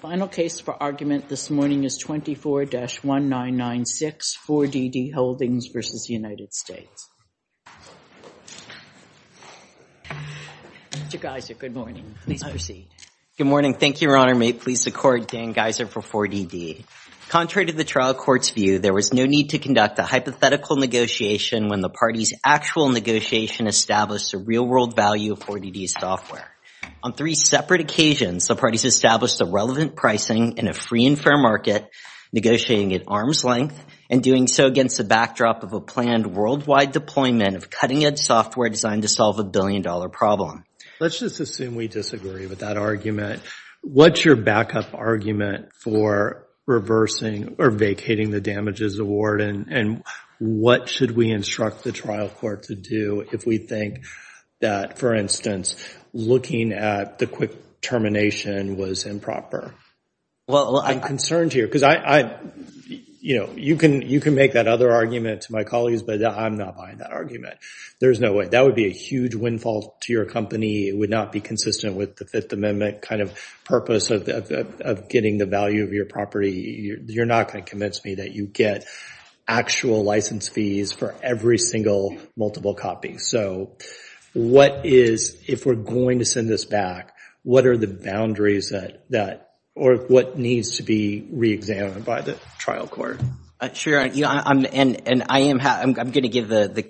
Final case for argument this morning is 24-1996, 4DD Holdings v. United States. Mr. Geiser, good morning. Please proceed. Good morning. Thank you, Your Honor. May it please the Court, Dan Geiser for 4DD. Contrary to the trial court's view, there was no need to conduct a hypothetical negotiation when the party's actual negotiation established the real-world value of relevant pricing in a free and fair market, negotiating at arm's length, and doing so against the backdrop of a planned worldwide deployment of cutting-edge software designed to solve a billion-dollar problem. Let's just assume we disagree with that argument. What's your backup argument for reversing or vacating the damages award, and what should we instruct the trial court to do if we think that, for instance, looking at the quick termination was improper? Well, I'm concerned here because I, you know, you can make that other argument to my colleagues, but I'm not buying that argument. There's no way. That would be a huge windfall to your company. It would not be consistent with the Fifth Amendment kind of purpose of getting the value of your property. You're not going to convince me that you get actual license fees for every single multiple copy. So what is, if we're going to send this back, what are the boundaries that, or what needs to be re-examined by the trial court? Sure, and I'm going to give the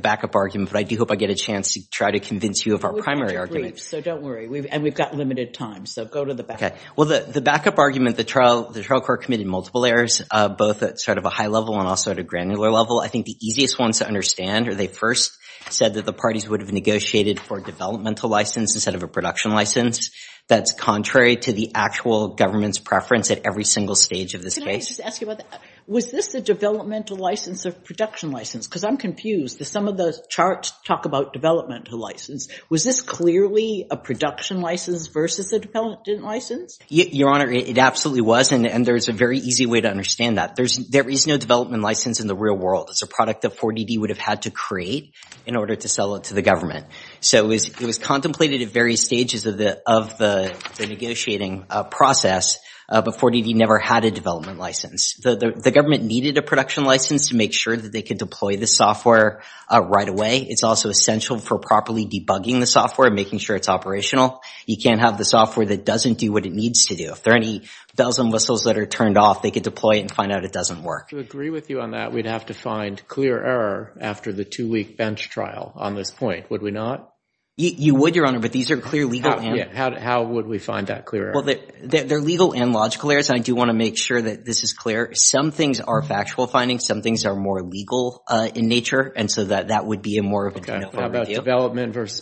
backup argument, but I do hope I get a chance to try to convince you of our primary argument. We've had your briefs, so don't worry. And we've got limited time, so go to the back. Okay. Well, the backup argument, the trial court committed multiple errors, both at sort of a high level and also at a granular level. I think the easiest ones to understand are they first said that the parties would have negotiated for developmental license instead of a production license. That's contrary to the actual government's preference at every single stage of this case. Can I just ask you about that? Was this the developmental license or production license? Because I'm confused. Some of those charts talk about developmental license. Was this clearly a production license versus a development license? Your Honor, it absolutely was. And there's a very easy way to understand that. There is no development license in the real world. It's a product that 4DD would have had to create in order to sell it to the government. So it was contemplated at various stages of the negotiating process, but 4DD never had a development license. The government needed a production license to make sure that they could deploy the software right away. It's also essential for properly debugging the software and making sure it's operational. You can't have the software that doesn't do what it needs to do. If there are any bells and whistles that are turned off, they could deploy it and find out it doesn't work. To agree with you on that, we'd have to find clear error after the two-week bench trial on this point, would we not? You would, Your Honor, but these are clear legal errors. How would we find that clear error? Well, they're legal and logical errors. I do want to make sure that this is clear. Some things are factual findings. Some things are more legal in nature. And so that would be a more of a general review. How about areas?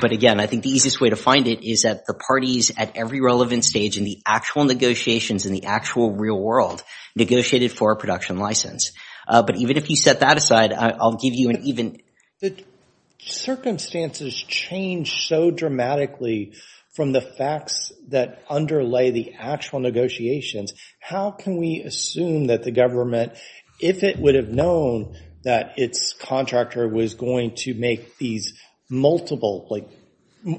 But again, I think the easiest way to find it is that the parties at every relevant stage in the actual negotiations in the actual real world negotiated for a production license. But even if you set that aside, I'll give you an even— The circumstances change so dramatically from the facts that underlay the actual negotiations. How can we assume that the if it would have known that its contractor was going to make these multiple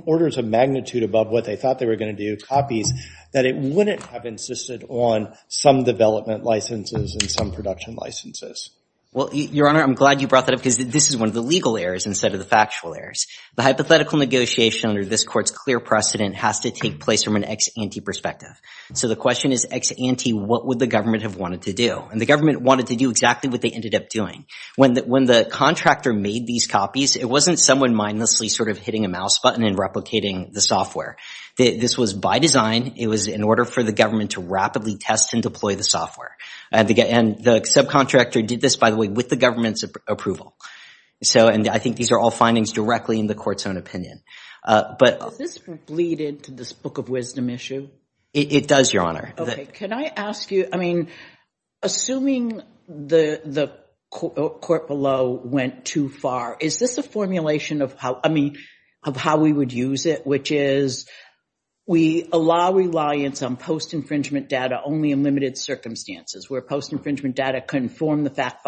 orders of magnitude above what they thought they were going to do, copies, that it wouldn't have insisted on some development licenses and some production licenses? Well, Your Honor, I'm glad you brought that up because this is one of the legal errors instead of the factual errors. The hypothetical negotiation under this court's clear precedent has to take place from an ex-ante perspective. So the question is ex-ante, what would the government have wanted to do? And the government wanted to do exactly what they ended up doing. When the contractor made these copies, it wasn't someone mindlessly sort of hitting a mouse button and replicating the software. This was by design. It was in order for the government to rapidly test and deploy the software. And the subcontractor did this, by the way, with the government's approval. So and I think these are all findings directly in the court's own opinion. But— Does this bleed into this book of wisdom issue? It does, Your Honor. Okay. Can I ask you, I mean, assuming the court below went too far, is this a formulation of how, I mean, of how we would use it, which is we allow reliance on post infringement data only in limited circumstances, where post infringement data can form the fact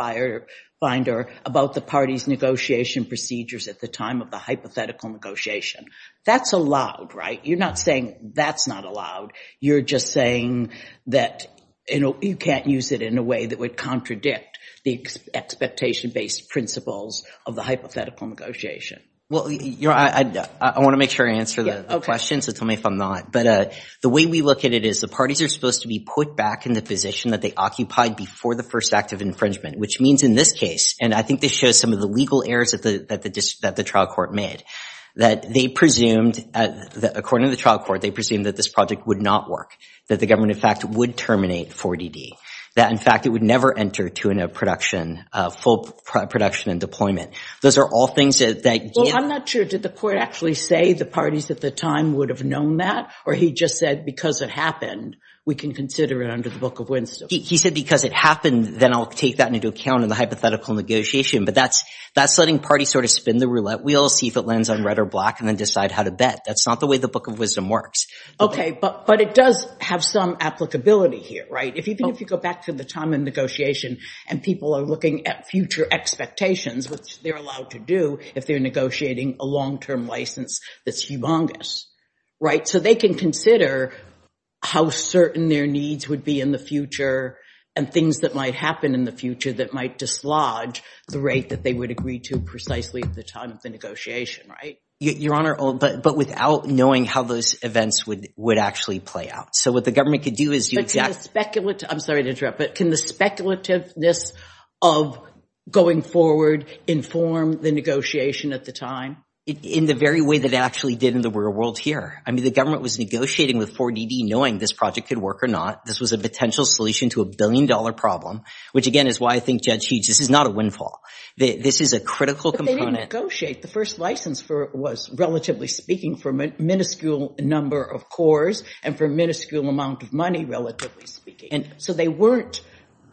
finder about the party's negotiation procedures at the time of the hypothetical negotiation. That's allowed, right? You're not saying that's not allowed. You're just saying that, you know, you can't use it in a way that would contradict the expectation-based principles of the hypothetical negotiation. Well, Your Honor, I want to make sure I answer the question, so tell me if I'm not. But the way we look at it is the parties are supposed to be put back in the position that they occupied before the first act of infringement, which means in this I think this shows some of the legal errors that the trial court made, that they presumed, according to the trial court, they presumed that this project would not work, that the government, in fact, would terminate 4DD, that, in fact, it would never enter to a production, full production and deployment. Those are all things that— Well, I'm not sure. Did the court actually say the parties at the time would have known that, or he just said because it happened, we can consider it under the book of wisdom? He said because it happened, then I'll take that into account in the hypothetical negotiation, but that's letting parties sort of spin the roulette wheel, see if it lands on red or black and then decide how to bet. That's not the way the book of wisdom works. Okay, but it does have some applicability here, right? Even if you go back to the time in negotiation and people are looking at future expectations, which they're allowed to do if they're negotiating a long-term license that's humongous, right? So they can consider how certain their needs would be in the future and things that might happen in the future that might dislodge the rate that they would agree to precisely at the time of the negotiation, right? Your Honor, but without knowing how those events would actually play out. So what the government could do is— I'm sorry to interrupt, but can the speculativeness of going forward inform the negotiation at the time? In the very way that it actually did in the real world here. I mean, the government was negotiating with 4DD knowing this project could work or not. This was a potential solution to a billion-dollar problem, which again is why I think Judge Hughes, this is not a windfall. This is a critical component. But they didn't negotiate. The first license for it was, relatively speaking, for a minuscule number of cores and for a minuscule amount of money, relatively speaking. And so they weren't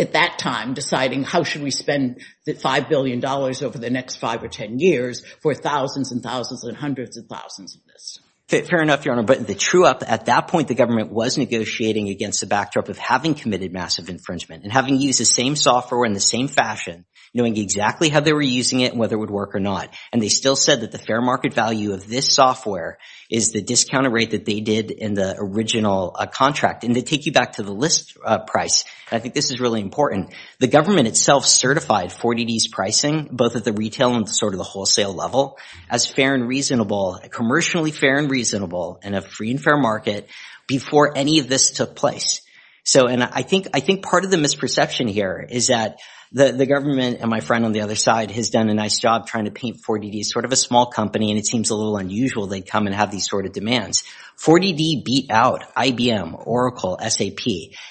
at that time deciding how should we spend the $5 billion over the next five or 10 years for thousands and thousands and hundreds and thousands of this. Fair enough, Your Honor. But the true up at that point, the government was negotiating against the backdrop of having committed massive infringement and having used the same software in the same fashion, knowing exactly how they were using it and whether it would work or not. And they still said that the fair market value of this software is the discounted rate that they did in the original contract. And to take you back to the list price, I think this is really important. The government itself certified 4DD's pricing, both at the retail and sort of the wholesale level, as fair and reasonable, commercially fair and reasonable in a free and fair market before any of this took place. And I think part of the misperception here is that the government and my friend on the other side has done a nice job trying to paint 4DD as sort of a small company and it seems a little unusual they come and have these sort of demands. 4DD beat out IBM, Oracle, SAP.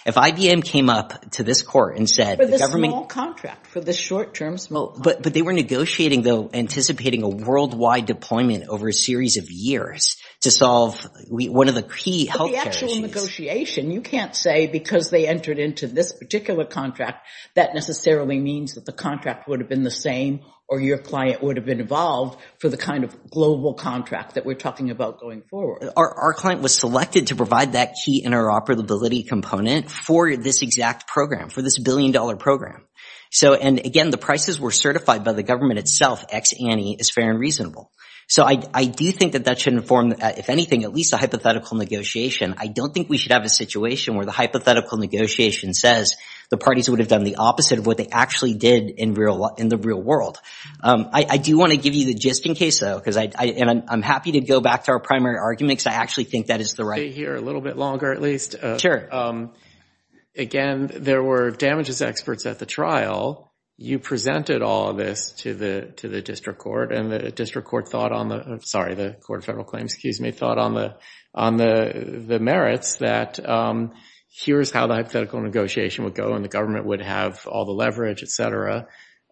If IBM came up to this court and said the government— For the small contract, for the short term small— But they were negotiating though, anticipating a worldwide deployment over a series of years to solve one of the key healthcare issues— But the actual negotiation, you can't say because they entered into this particular contract that necessarily means that the contract would have been the same or your client would have been involved for the kind of global contract that we're talking about going forward. Our client was selected to provide that key interoperability component for this exact program, for this billion-dollar program. And again, the prices were certified by the government itself, ex-ANI, as fair and reasonable. So I do think that that should inform, if anything, at least a hypothetical negotiation. I don't think we should have a situation where the hypothetical negotiation says the parties would have done the opposite of what they actually did in the real world. I do want to give you the just-in-case though, and I'm happy to go back to our primary argument because I actually think that is the right— Stay here a little bit longer at least. Sure. Again, there were damages experts at the trial. You presented all of this to the district court and the district court thought on the— sorry, the court of federal claims, excuse me, thought on the merits that here's how the hypothetical negotiation would go and the government would have all the leverage, et cetera.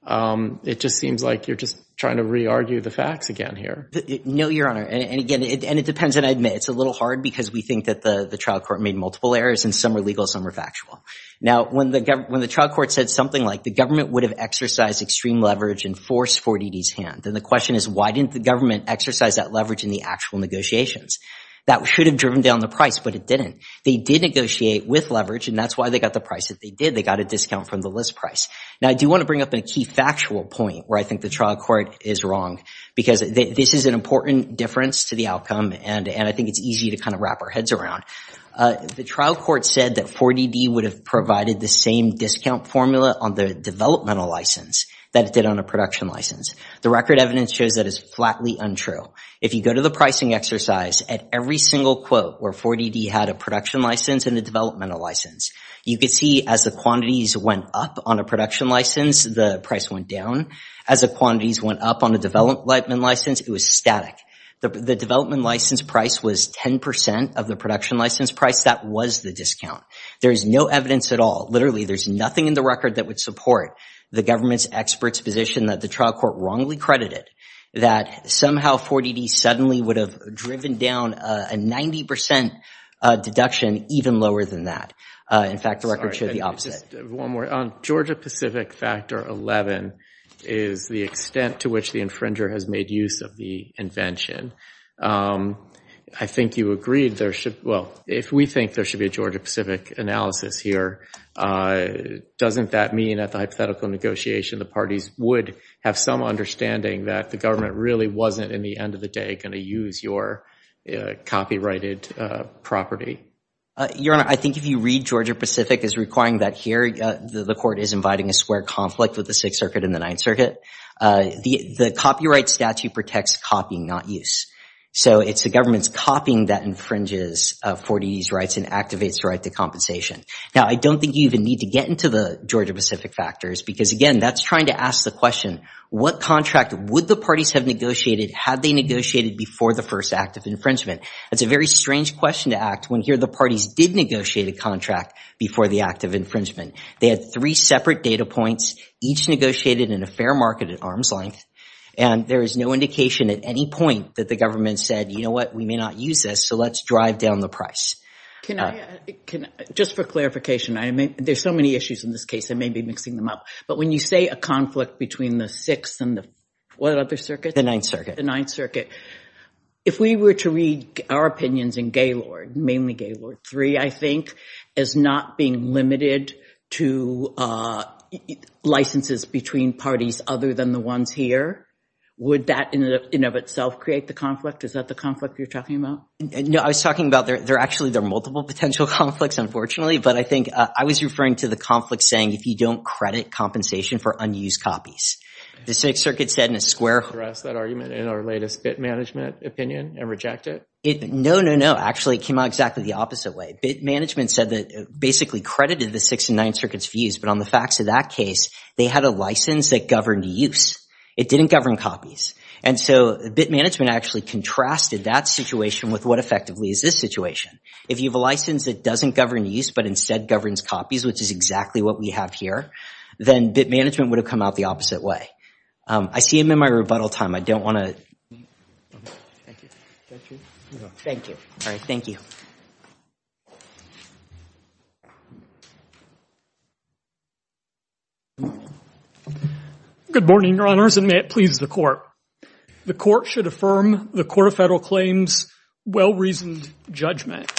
It just seems like you're just trying to re-argue the facts again here. No, Your Honor. And again, it depends. And I admit it's a little hard because we think that the trial court made multiple errors and some are legal, some are factual. Now, when the trial court said something like the government would have exercised extreme leverage and forced 4DD's hand, then the question is why didn't the government exercise that leverage in the actual negotiations? That should have driven down the price, but it didn't. They did negotiate with leverage and that's why they got the price that they did. They got a discount from the list price. Now, I do want to bring up a key factual point where I think the trial court is wrong because this is an important difference to the outcome and I think it's easy to kind of wrap our heads around. The trial court said that 4DD would have provided the same discount formula on the developmental license that it did on a production license. The record evidence shows that is flatly untrue. If you go to the pricing exercise at every single quote where 4DD had a production license and a developmental license, you could see as the quantities went up on a production license, the price went down. As the quantities went up on the development license, it was static. The development license price was 10% of the production license price. That was the discount. There is no evidence at all. Literally, there's nothing in the record that would support the government's expert's position that the trial court wrongly credited, that somehow 4DD suddenly would have driven down a 90% deduction even lower than that. In fact, the record showed the opposite. Sorry, just one more. On Georgia-Pacific factor 11 is the extent to which the infringer has made use of the invention. I think you agreed there should, well, if we think there should be a Georgia-Pacific analysis here, doesn't that mean at the hypothetical negotiation the parties would have some understanding that the government really wasn't in the end of the day going to use your copyrighted property? Your Honor, I think if you read Georgia-Pacific as requiring that here the court is inviting a conflict with the Sixth Circuit and the Ninth Circuit. The copyright statute protects copying, not use. So it's the government's copying that infringes 4DD's rights and activates the right to compensation. Now, I don't think you even need to get into the Georgia-Pacific factors because, again, that's trying to ask the question, what contract would the parties have negotiated had they negotiated before the first act of infringement? It's a very strange question to act when here the parties did negotiate a contract before the act of infringement. They had three separate data points, each negotiated in a fair market at arm's length, and there is no indication at any point that the government said, you know what, we may not use this, so let's drive down the price. Can I, just for clarification, there's so many issues in this case, I may be mixing them up, but when you say a conflict between the Sixth and the, what other circuit? The Ninth Circuit. The Ninth Circuit. If we were to read our opinions in Gaylord, mainly Gaylord III, I think, as not being limited to licenses between parties other than the ones here, would that in and of itself create the conflict? Is that the conflict you're talking about? No, I was talking about there, actually, there are multiple potential conflicts, unfortunately, but I think, I was referring to the conflict saying if you don't credit compensation for unused copies. The Sixth Circuit said in a square. Can we address that argument in our latest bit management opinion and reject it? No, no, no. Actually, it came out exactly the opposite way. Bit management said that, basically, credited the Sixth and Ninth Circuit's views, but on the facts of that case, they had a license that governed use. It didn't govern copies. And so, bit management actually contrasted that situation with what effectively is this situation. If you have a license that doesn't govern use, but instead governs copies, which is exactly what we have here, then bit management would have come out the opposite way. I see him in my rebuttal time. I don't want to. Thank you. All right. Thank you. Good morning, Your Honors, and may it please the Court. The Court should affirm the Court of Federal Claims' well-reasoned judgment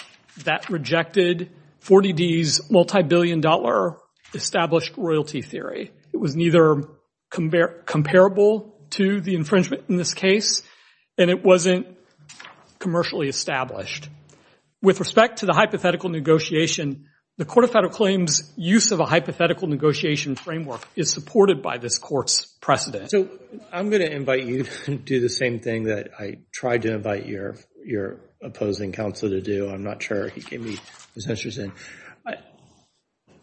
that rejected 40D's multi-billion dollar established royalty theory. It was neither comparable to the infringement in this case, and it wasn't commercially established. With respect to the hypothetical negotiation, the Court of Federal Claims' use of a hypothetical negotiation framework is supported by this Court's precedent. So, I'm going to invite you to do the same thing that I tried to invite your opposing counselor to do. I'm not sure he gave me his answers in.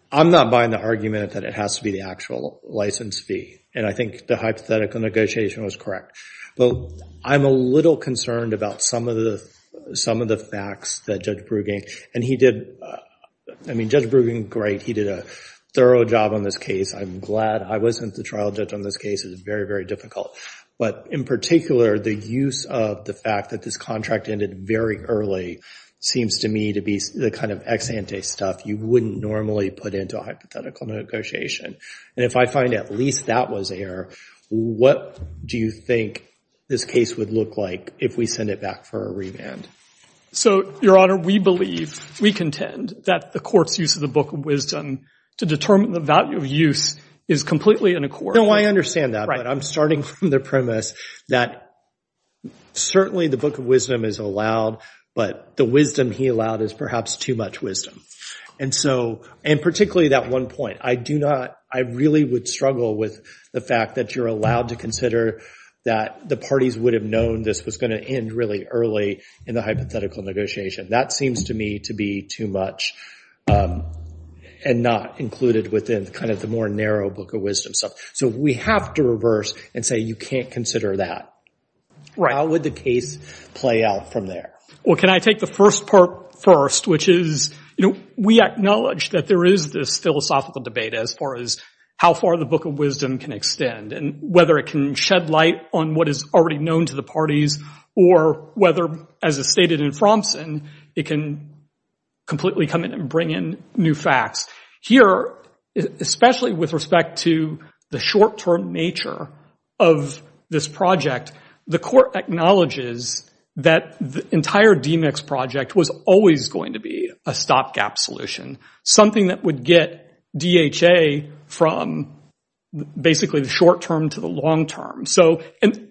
I'm not buying the argument that it has to be the actual license fee, and I think the hypothetical negotiation was correct. But I'm a little concerned about some of the facts that Judge Bruggen—and he did—I mean, Judge Bruggen, great. He did a thorough job on this case. I'm glad I wasn't the trial judge on this case. It was very, very difficult. But in particular, the use of the fact that this contract ended very early seems to me to be the kind of ex-ante stuff you wouldn't normally put into a hypothetical negotiation. And if I find at least that was error, what do you think this case would look like if we send it back for a remand? So, Your Honor, we believe, we contend, that the Court's use of the Book of Wisdom to determine the value of use is completely in accord. No, I understand that. But I'm starting from the premise that certainly the Book of Wisdom is allowed, but the wisdom he allowed is perhaps too much wisdom. And so—and particularly that one point. I do not—I really would struggle with the fact that you're allowed to consider that the parties would have known this was going to end really early in the hypothetical negotiation. That seems to me to be too much and not included within kind of the more narrow Book of Wisdom. So we have to reverse and say you can't consider that. How would the case play out from there? Well, can I take the first part first, which is, you know, we acknowledge that there is this philosophical debate as far as how far the Book of Wisdom can extend and whether it can shed light on what is already known to the parties or whether, as is stated in Fromson, it can completely come in and bring in new facts. Here, especially with respect to the short-term nature of this project, the Court acknowledges that the entire DMICS project was always going to be a stopgap solution, something that would get DHA from basically the short-term to the long-term. So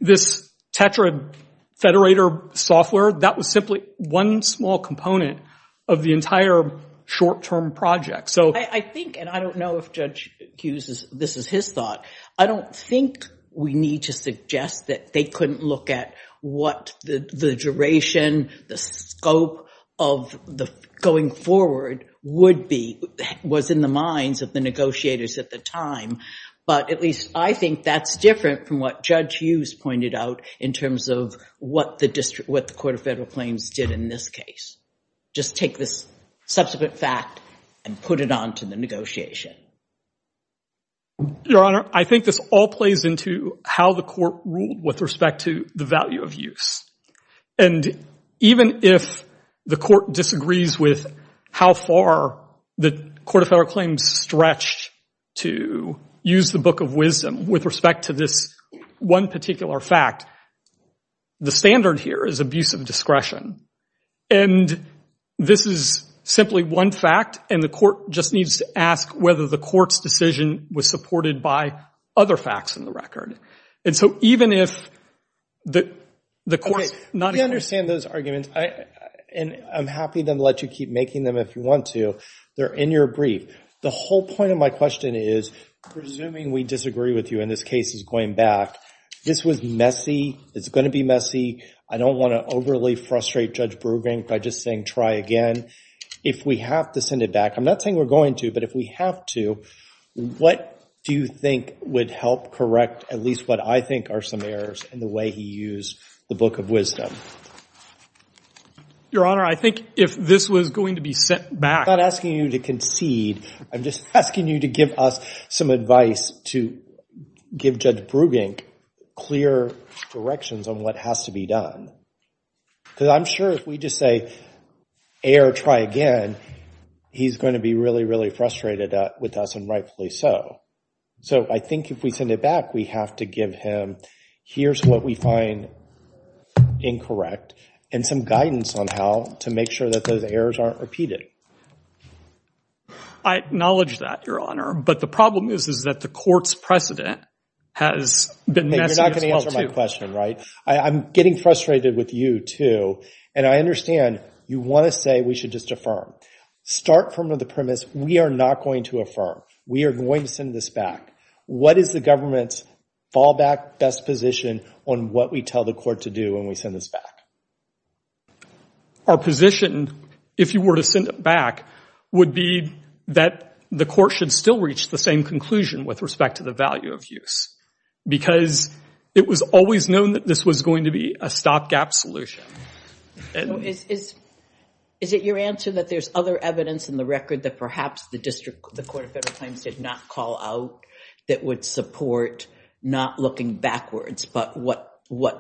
this Tetra federator software, that was simply one small component of the entire short-term project. So I think—and I don't know if Judge Hughes—this is his thought—I don't think we need to suggest that they couldn't look at what the duration, the scope of the going forward would be, was in the minds of the negotiators at the time. But at least I think that's different from what Judge Hughes pointed out in terms of what the Court of Federal Claims did in this case. Just take this subsequent fact and put it onto the negotiation. Your Honor, I think this all plays into how the Court ruled with respect to the value of use. And even if the Court disagrees with how far the Court of Federal Claims stretched to use the book of wisdom with respect to this one particular fact, the standard here is abuse of discretion. And this is simply one fact, and the Court just needs to ask whether the Court's decision was supported by other facts in the record. And so even if the Court's— Okay, we understand those arguments, and I'm happy to let you keep making them if you want to. They're in your brief. The whole point of my question is, presuming we disagree with you and this case is going back, this was messy, it's going to be messy, I don't want to overly frustrate Judge Brueggen by just saying try again. If we have to send it back—I'm not saying we're going to, but if we have to—what do you think would help correct at least what I think are some errors in the way he used the book of wisdom? Your Honor, I think if this was going to be sent back— I'm not asking you to concede, I'm just asking you to give us some advice to give Judge Brueggen clear directions on what has to be done. Because I'm sure if we just say, err, try again, he's going to be really, frustrated with us, and rightfully so. So I think if we send it back, we have to give him, here's what we find incorrect, and some guidance on how to make sure that those errors aren't repeated. I acknowledge that, Your Honor, but the problem is that the Court's precedent has been messy as well, too. You're not going to answer my question, right? I'm getting frustrated with you, too, and I understand you want to say we should just affirm. Start from the premise we are not going to affirm. We are going to send this back. What is the government's fallback best position on what we tell the Court to do when we send this back? Our position, if you were to send it back, would be that the Court should still reach the same conclusion with respect to the value of use. Because it was always known that this was going to be a stopgap solution. Is it your answer that there's other evidence in the record that perhaps the District, the Court of Federal Claims did not call out that would support not looking backwards, but what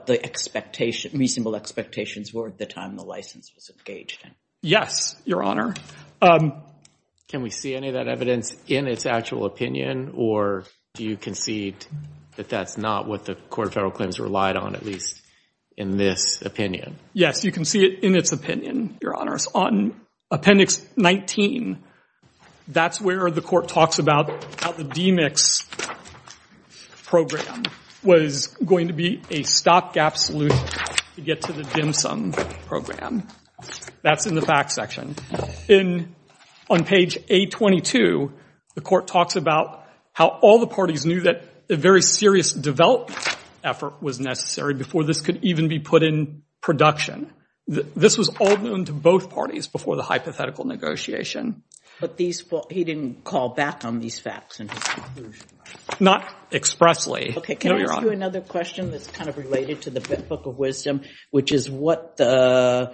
the expectation, reasonable expectations were at the time the license was engaged in? Yes, Your Honor. Can we see any of that evidence in its actual opinion, or do you concede that that's not what the Court of Federal Claims relied on, at least in this opinion? Yes, you can see it in its opinion, Your Honors. On Appendix 19, that's where the Court talks about how the DMICS program was going to be a stopgap solution to get to the DMSM program. That's in the facts section. On page 822, the Court talks about how all the parties knew that a very serious development effort was necessary before this could even be put in production. This was all known to both parties before the hypothetical negotiation. But he didn't call back on these facts? Not expressly. Okay, can I ask you another question that's kind of related to the Book of Wisdom, which is what the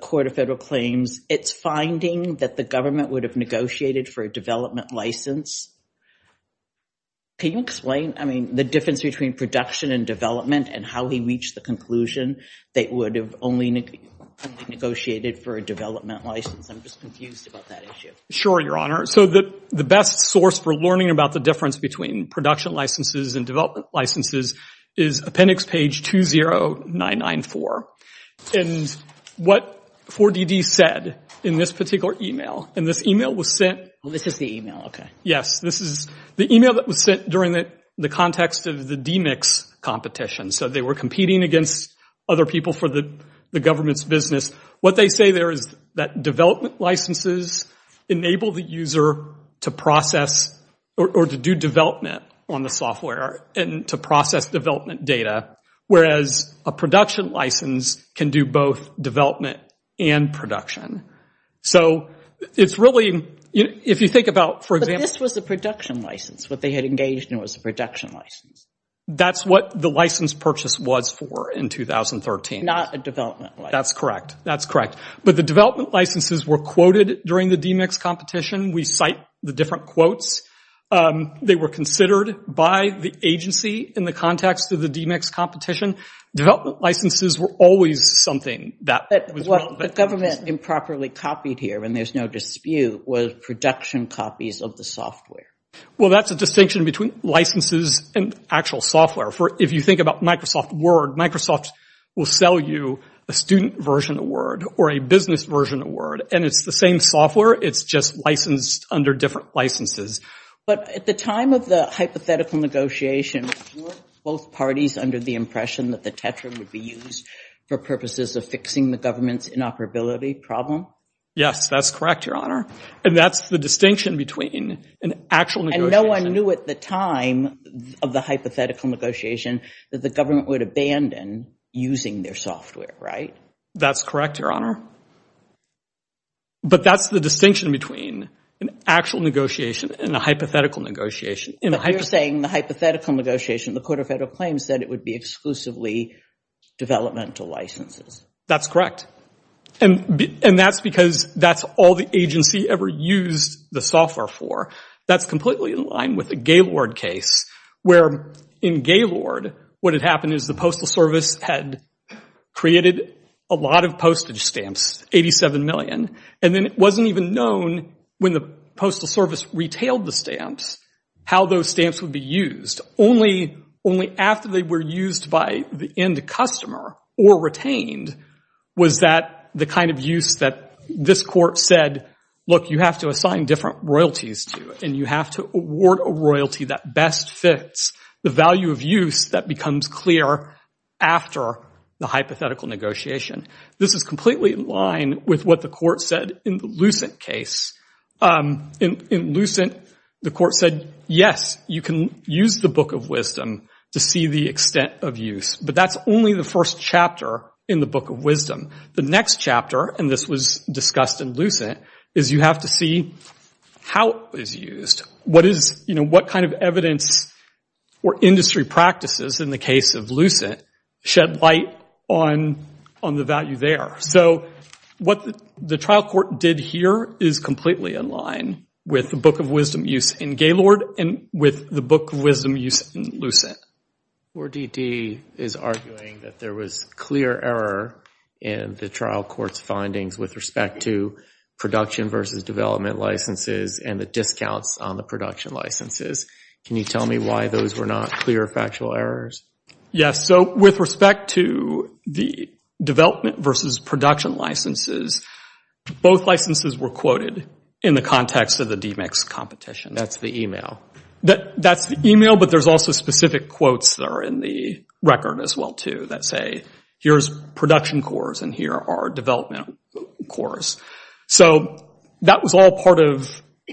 Court of Federal Claims, it's finding that the government would have negotiated for a development license. Can you explain, I mean, the difference between production and development and how he reached the conclusion that it would have only negotiated for a development license? I'm just confused about that issue. Sure, Your Honor. So the best source for learning about the difference between production licenses and development licenses is Appendix page 20994. And what 4DD said in this particular email, and this email was sent. This is the email, okay. Yes, this is the email that was sent during the context of the DMICS competition. So they were competing against other people for the government's business. What they say there is that development licenses enable the user to process or to do development on the software and to process development data, whereas a production license can do both development and production. So it's really, if you think about, for example. But this was a production license. What they had engaged in was a production license. That's what the license purchase was for in 2013. Not a development license. That's correct. But the development licenses were quoted during the DMICS competition. We cite the different quotes. They were considered by the agency in the context of the DMICS competition. Development licenses were always something that was developed. But what the government improperly copied here, and there's no dispute, was production copies of the software. Well, that's a distinction between licenses and actual software. If you think about Microsoft Word, Microsoft will sell you a student version of Word or a business version of Word, and it's the same software. It's just licensed under different licenses. But at the time of the hypothetical negotiation, were both parties under the impression that the Tetra would be used for purposes of fixing the government's inoperability problem? Yes, that's correct, Your Honor. And that's the distinction between an actual negotiation. And no one knew at the time of the hypothetical negotiation that the government would abandon using their software, right? That's correct, Your Honor. But that's the distinction between an actual negotiation and a hypothetical negotiation. But you're saying the hypothetical negotiation, the Court of Federal Claims said it would be exclusively developmental licenses. That's correct. And that's because that's all the agency ever used the software for. That's completely in line with the Gaylord case, where in Gaylord, what had happened is the Postal Service had created a lot of postage stamps, 87 million. And then it wasn't even known when the Postal Service retailed the stamps, how those stamps would be used. Only after they were used by the end customer or retained was that the kind of use that this court said, look, you have to different royalties to and you have to award a royalty that best fits the value of use that becomes clear after the hypothetical negotiation. This is completely in line with what the court said in the Lucent case. In Lucent, the court said, yes, you can use the Book of Wisdom to see the extent of use. But that's only the first chapter in the Book of Wisdom. The next chapter, and this was discussed in Lucent, is you have to see how it was used. What kind of evidence or industry practices in the case of Lucent shed light on the value there? So what the trial court did here is completely in line with the Book of Wisdom use in Gaylord and with the Book of Wisdom use in Lucent. 4DD is arguing that there was clear error in the trial court's findings with respect to production versus development licenses and the discounts on the production licenses. Can you tell me why those were not clear factual errors? Yes. So with respect to the development versus production licenses, both licenses were quoted in the context of the DMICS competition. That's the email. That's the email, but there's also specific quotes that are in the record as well, too, that say, here's production cores and here are development cores. So that was all part of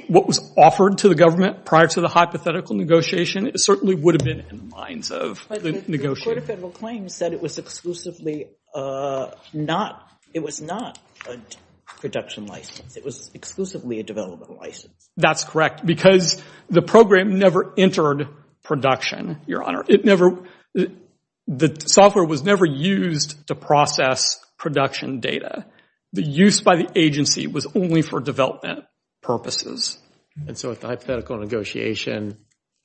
what was offered to the government prior to the hypothetical negotiation. It certainly would have been in the minds of the negotiator. But the court of federal claims said it was not a production license. It was exclusively a development license. That's correct, because the program never entered production, Your Honor. The software was never used to process production data. The use by the agency was only for development purposes. And so with the hypothetical negotiation,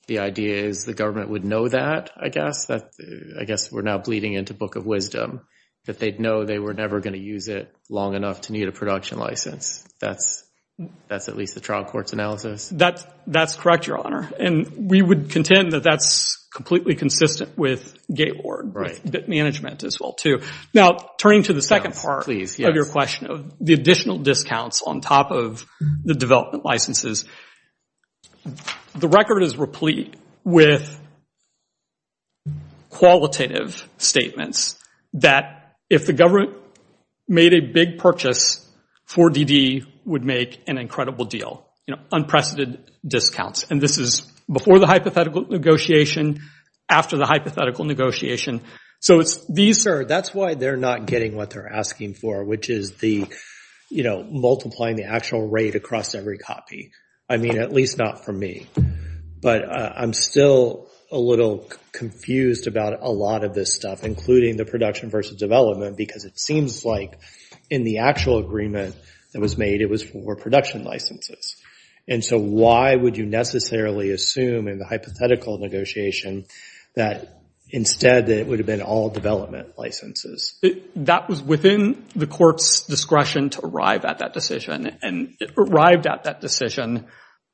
the idea is the government would know that, I guess. I guess we're now bleeding into Book of Wisdom. That they'd know they were never going to use it long enough to need a production license. That's at least the trial court's analysis? That's correct, Your Honor. And we would contend that that's completely consistent with Gateward, with management as well, too. Now, turning to the second part of your question of the additional discounts on top of the development licenses, the record is replete with qualitative statements that if the government made a big purchase, 4DD would make an incredible deal, unprecedented discounts. And this is before the hypothetical negotiation, after the hypothetical negotiation. So that's why they're not getting what they're asking for, which is multiplying the actual rate across every copy. I mean, at least not for me. But I'm still a little confused about a lot of this stuff, including the production versus development, because it seems like in the actual agreement that was made, it was for production licenses. And so why would you necessarily assume in the hypothetical negotiation that instead it would have been all development licenses? That was within the court's discretion to arrive at that decision. And it arrived at that decision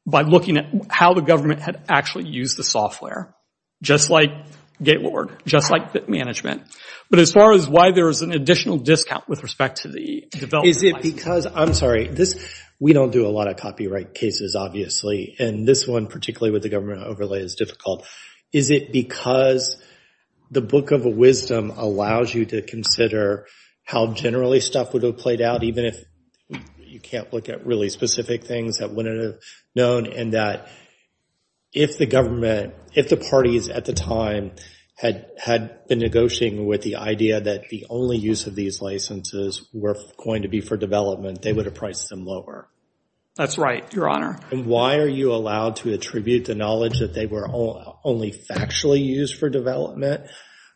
by looking at how the government had actually used the software, just like Gateward, just like management. But as far as why there is an additional discount with respect to the development license. Is it because, I'm sorry, we don't do a lot of copyright cases, obviously, and this one, particularly with the government overlay, is difficult. Is it because the book of wisdom allows you to consider how generally stuff would have played out, even if you can't look at really specific things that wouldn't have known, and that if the government, if the parties at the time had been negotiating with the idea that the only use of these licenses were going to be for development, they would have priced them lower? That's right, Your Honor. And why are you allowed to attribute the knowledge that they were only factually used for development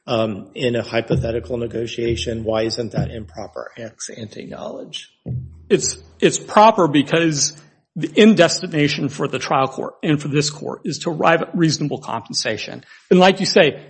in a hypothetical negotiation? Why isn't that improper ex-ante knowledge? It's proper because the end destination for the trial court, and for this court, is to arrive at reasonable compensation. And like you say,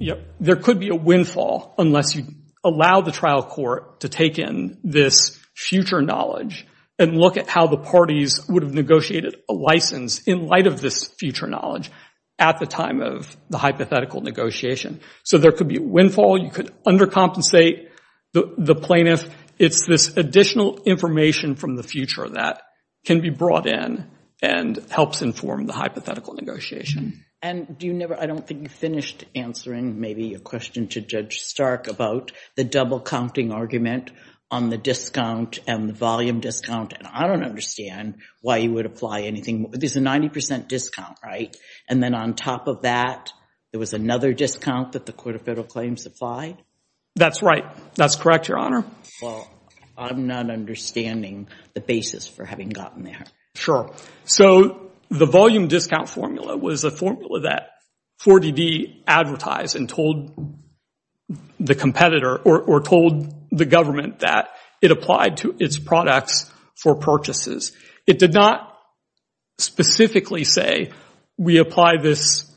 there could be a windfall unless you allow the trial court to take in this future knowledge and look at how the parties would have negotiated a license in light of this future knowledge at the time of the hypothetical negotiation. So there could be a windfall. You could undercompensate the plaintiff. It's this additional information from the future that can be brought in and helps inform the hypothetical negotiation. And do you never, I don't think you finished answering maybe a question to Judge Stark about the double counting argument on the discount and the volume discount. And I don't understand why you would apply anything. There's a 90 percent discount, right? And then on top of that, there was another discount that the Court of Federal Claims applied? That's right. That's correct, Your Honor. Well, I'm not understanding the basis for having gotten there. Sure. So the volume discount formula was a formula that 4DD advertised and told the competitor or told the government that it applied to its products for purchases. It did not specifically say, we apply this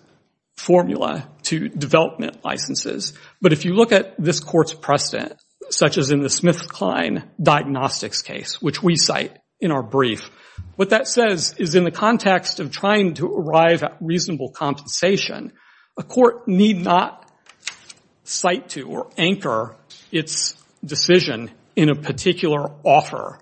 formula to development licenses. But if you look at this court's precedent, such as in the Smith-Kline diagnostics case, which we cite in our brief, what that says is in the context of trying to arrive at reasonable compensation, a court need not cite to or anchor its decision in a particular offer.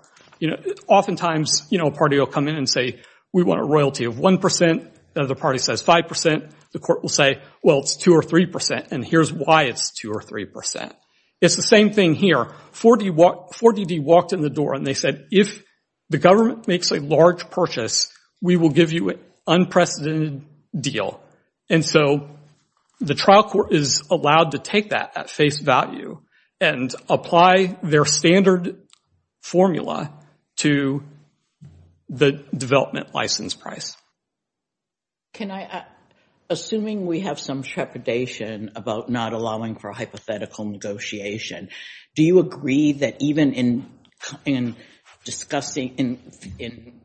Oftentimes, a party will come in and say, we want a royalty of 1 percent. The other party says 5 percent. The court will say, well, it's 2 or 3 percent. And here's why it's 2 or 3 percent. It's the same thing here. 4DD walked in the door and they said, if the government makes a large purchase, we will give you an unprecedented deal. And so the trial court is allowed to take that at face value and apply their standard formula to the development license price. Can I, assuming we have some trepidation about not allowing for hypothetical negotiation, do you agree that even in discussing, in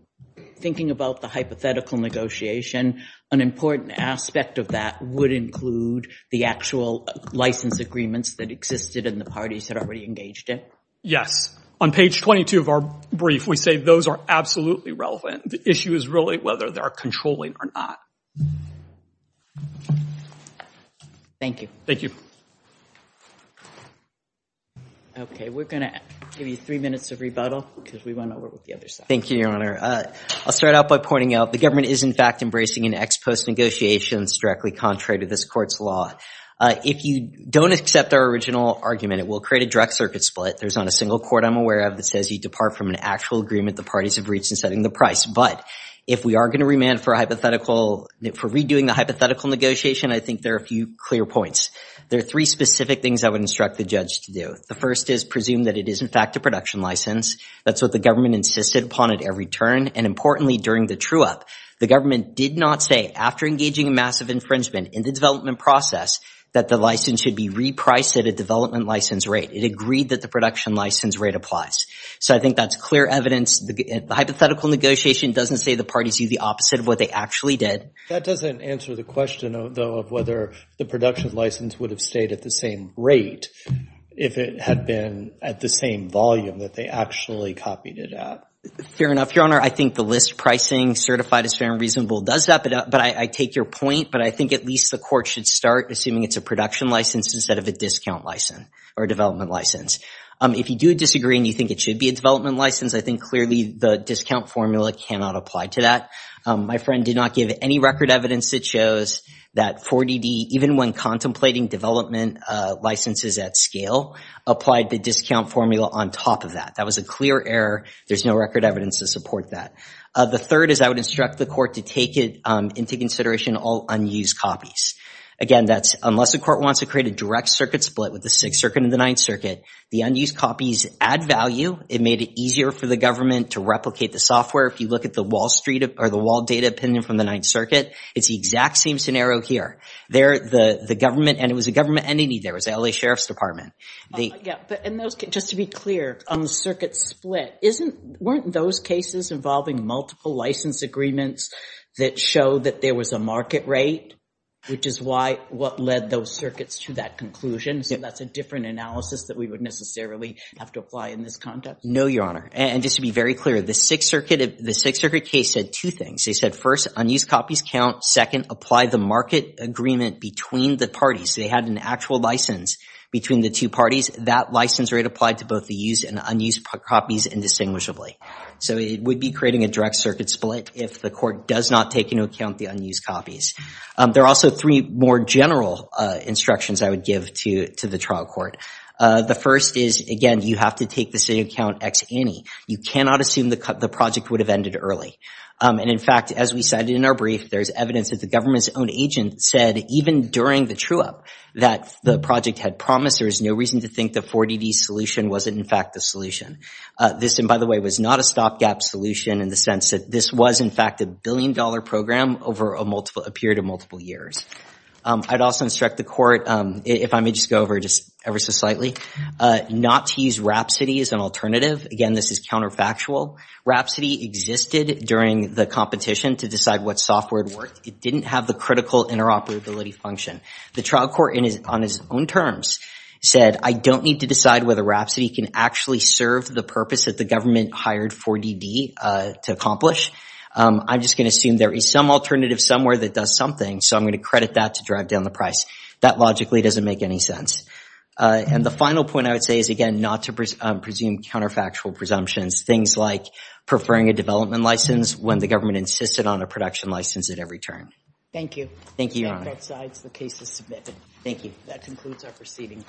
thinking about the hypothetical negotiation, an important aspect of that would include the actual license agreements that existed in the parties that already engaged it? Yes. On page 22 of our brief, we say those are absolutely relevant. The issue is really whether they're controlling or not. Thank you. Thank you. Okay, we're going to give you three minutes of rebuttal, because we went over with the other side. Thank you, Your Honor. I'll start out by pointing out the government is, in fact, embracing an ex post negotiations directly contrary to this court's law. If you don't accept our original argument, it will create a direct circuit split. There's not a single court I'm aware of that says you depart from an actual agreement the parties have reached in setting the price. But if we are going to remand for a hypothetical, for redoing the hypothetical negotiation, I think there are a few clear points. There are three specific things I would instruct the judge to do. The first is presume that it is, in fact, a production license. That's what the government insisted upon at every turn. And importantly, during the true up, the government did not say, after engaging a massive infringement in the development process, that the license should be repriced at a development license rate. It agreed that the production license rate applies. So I think that's clear evidence. The hypothetical negotiation doesn't say the parties do the opposite of what they actually did. That doesn't answer the question, though, of whether the production license would have stayed at the same rate if it had been at the same volume that they actually copied it at. Fair enough, Your Honor. I think the list pricing certified as fair and reasonable does that. But I take your point. But I think at least the court should start assuming it's a production license instead of a discount license or development license. If you do disagree and you think it should be a development license, I think clearly the discount formula cannot apply to that. My friend did not give any record evidence that shows that 4DD, even when contemplating development licenses at scale, applied the discount formula on top of that. That was a clear error. There's no record evidence to support that. The third is I would instruct the court to take it into consideration all unused copies. Again, that's unless the court wants to create a direct circuit split with the Sixth Circuit and the Ninth Circuit. The unused copies add value. It made it easier for the government to replicate the software. If you look at the Wall Street or the wall data opinion from the Ninth Circuit, it's the exact same scenario here. There, the government, and it was a government entity. There was the L.A. Sheriff's Department. Yeah, but just to be clear, on the circuit split, weren't those cases involving multiple license agreements that showed that there was a market rate, which is what led those circuits to that conclusion? That's a different analysis that we would necessarily have to apply in this context? No, Your Honor. And just to be very clear, the Sixth Circuit case said two things. They said, first, unused copies count. Second, apply the market agreement between the parties. They had an actual license between the two parties. That license rate applied to both the used and unused copies indistinguishably. So it would be creating a direct circuit split if the court does not take into account the unused copies. There are also three more general instructions I would give to the trial court. The first is, again, you have to take the city account ex ante. You cannot assume the project would have ended early. And in fact, as we cited in our brief, there's evidence that the government's own agent said, even during the true-up, that the project had promised there was no reason to think the 4DD solution wasn't, in fact, the solution. This, and by the way, was not a stopgap solution in the sense that this was, in fact, a billion-dollar program over a period of multiple years. I'd also instruct the court, if I may just go over just ever so slightly, not to use Rhapsody as an alternative. Again, this is counterfactual. Rhapsody existed during the competition to decide what software it worked. It didn't have the critical interoperability function. The trial court, on his own terms, said, I don't need to decide whether Rhapsody can actually serve the purpose that the government hired 4DD to accomplish. I'm just going to assume there is some alternative somewhere that does something, so I'm going to credit that to drive down the price. That logically doesn't make any sense. And the final point I would say is, again, not to presume counterfactual presumptions. Things like preferring a development license when the government insisted on a production license at every term. Thank you. Thank you, Your Honor. That concludes our proceeding.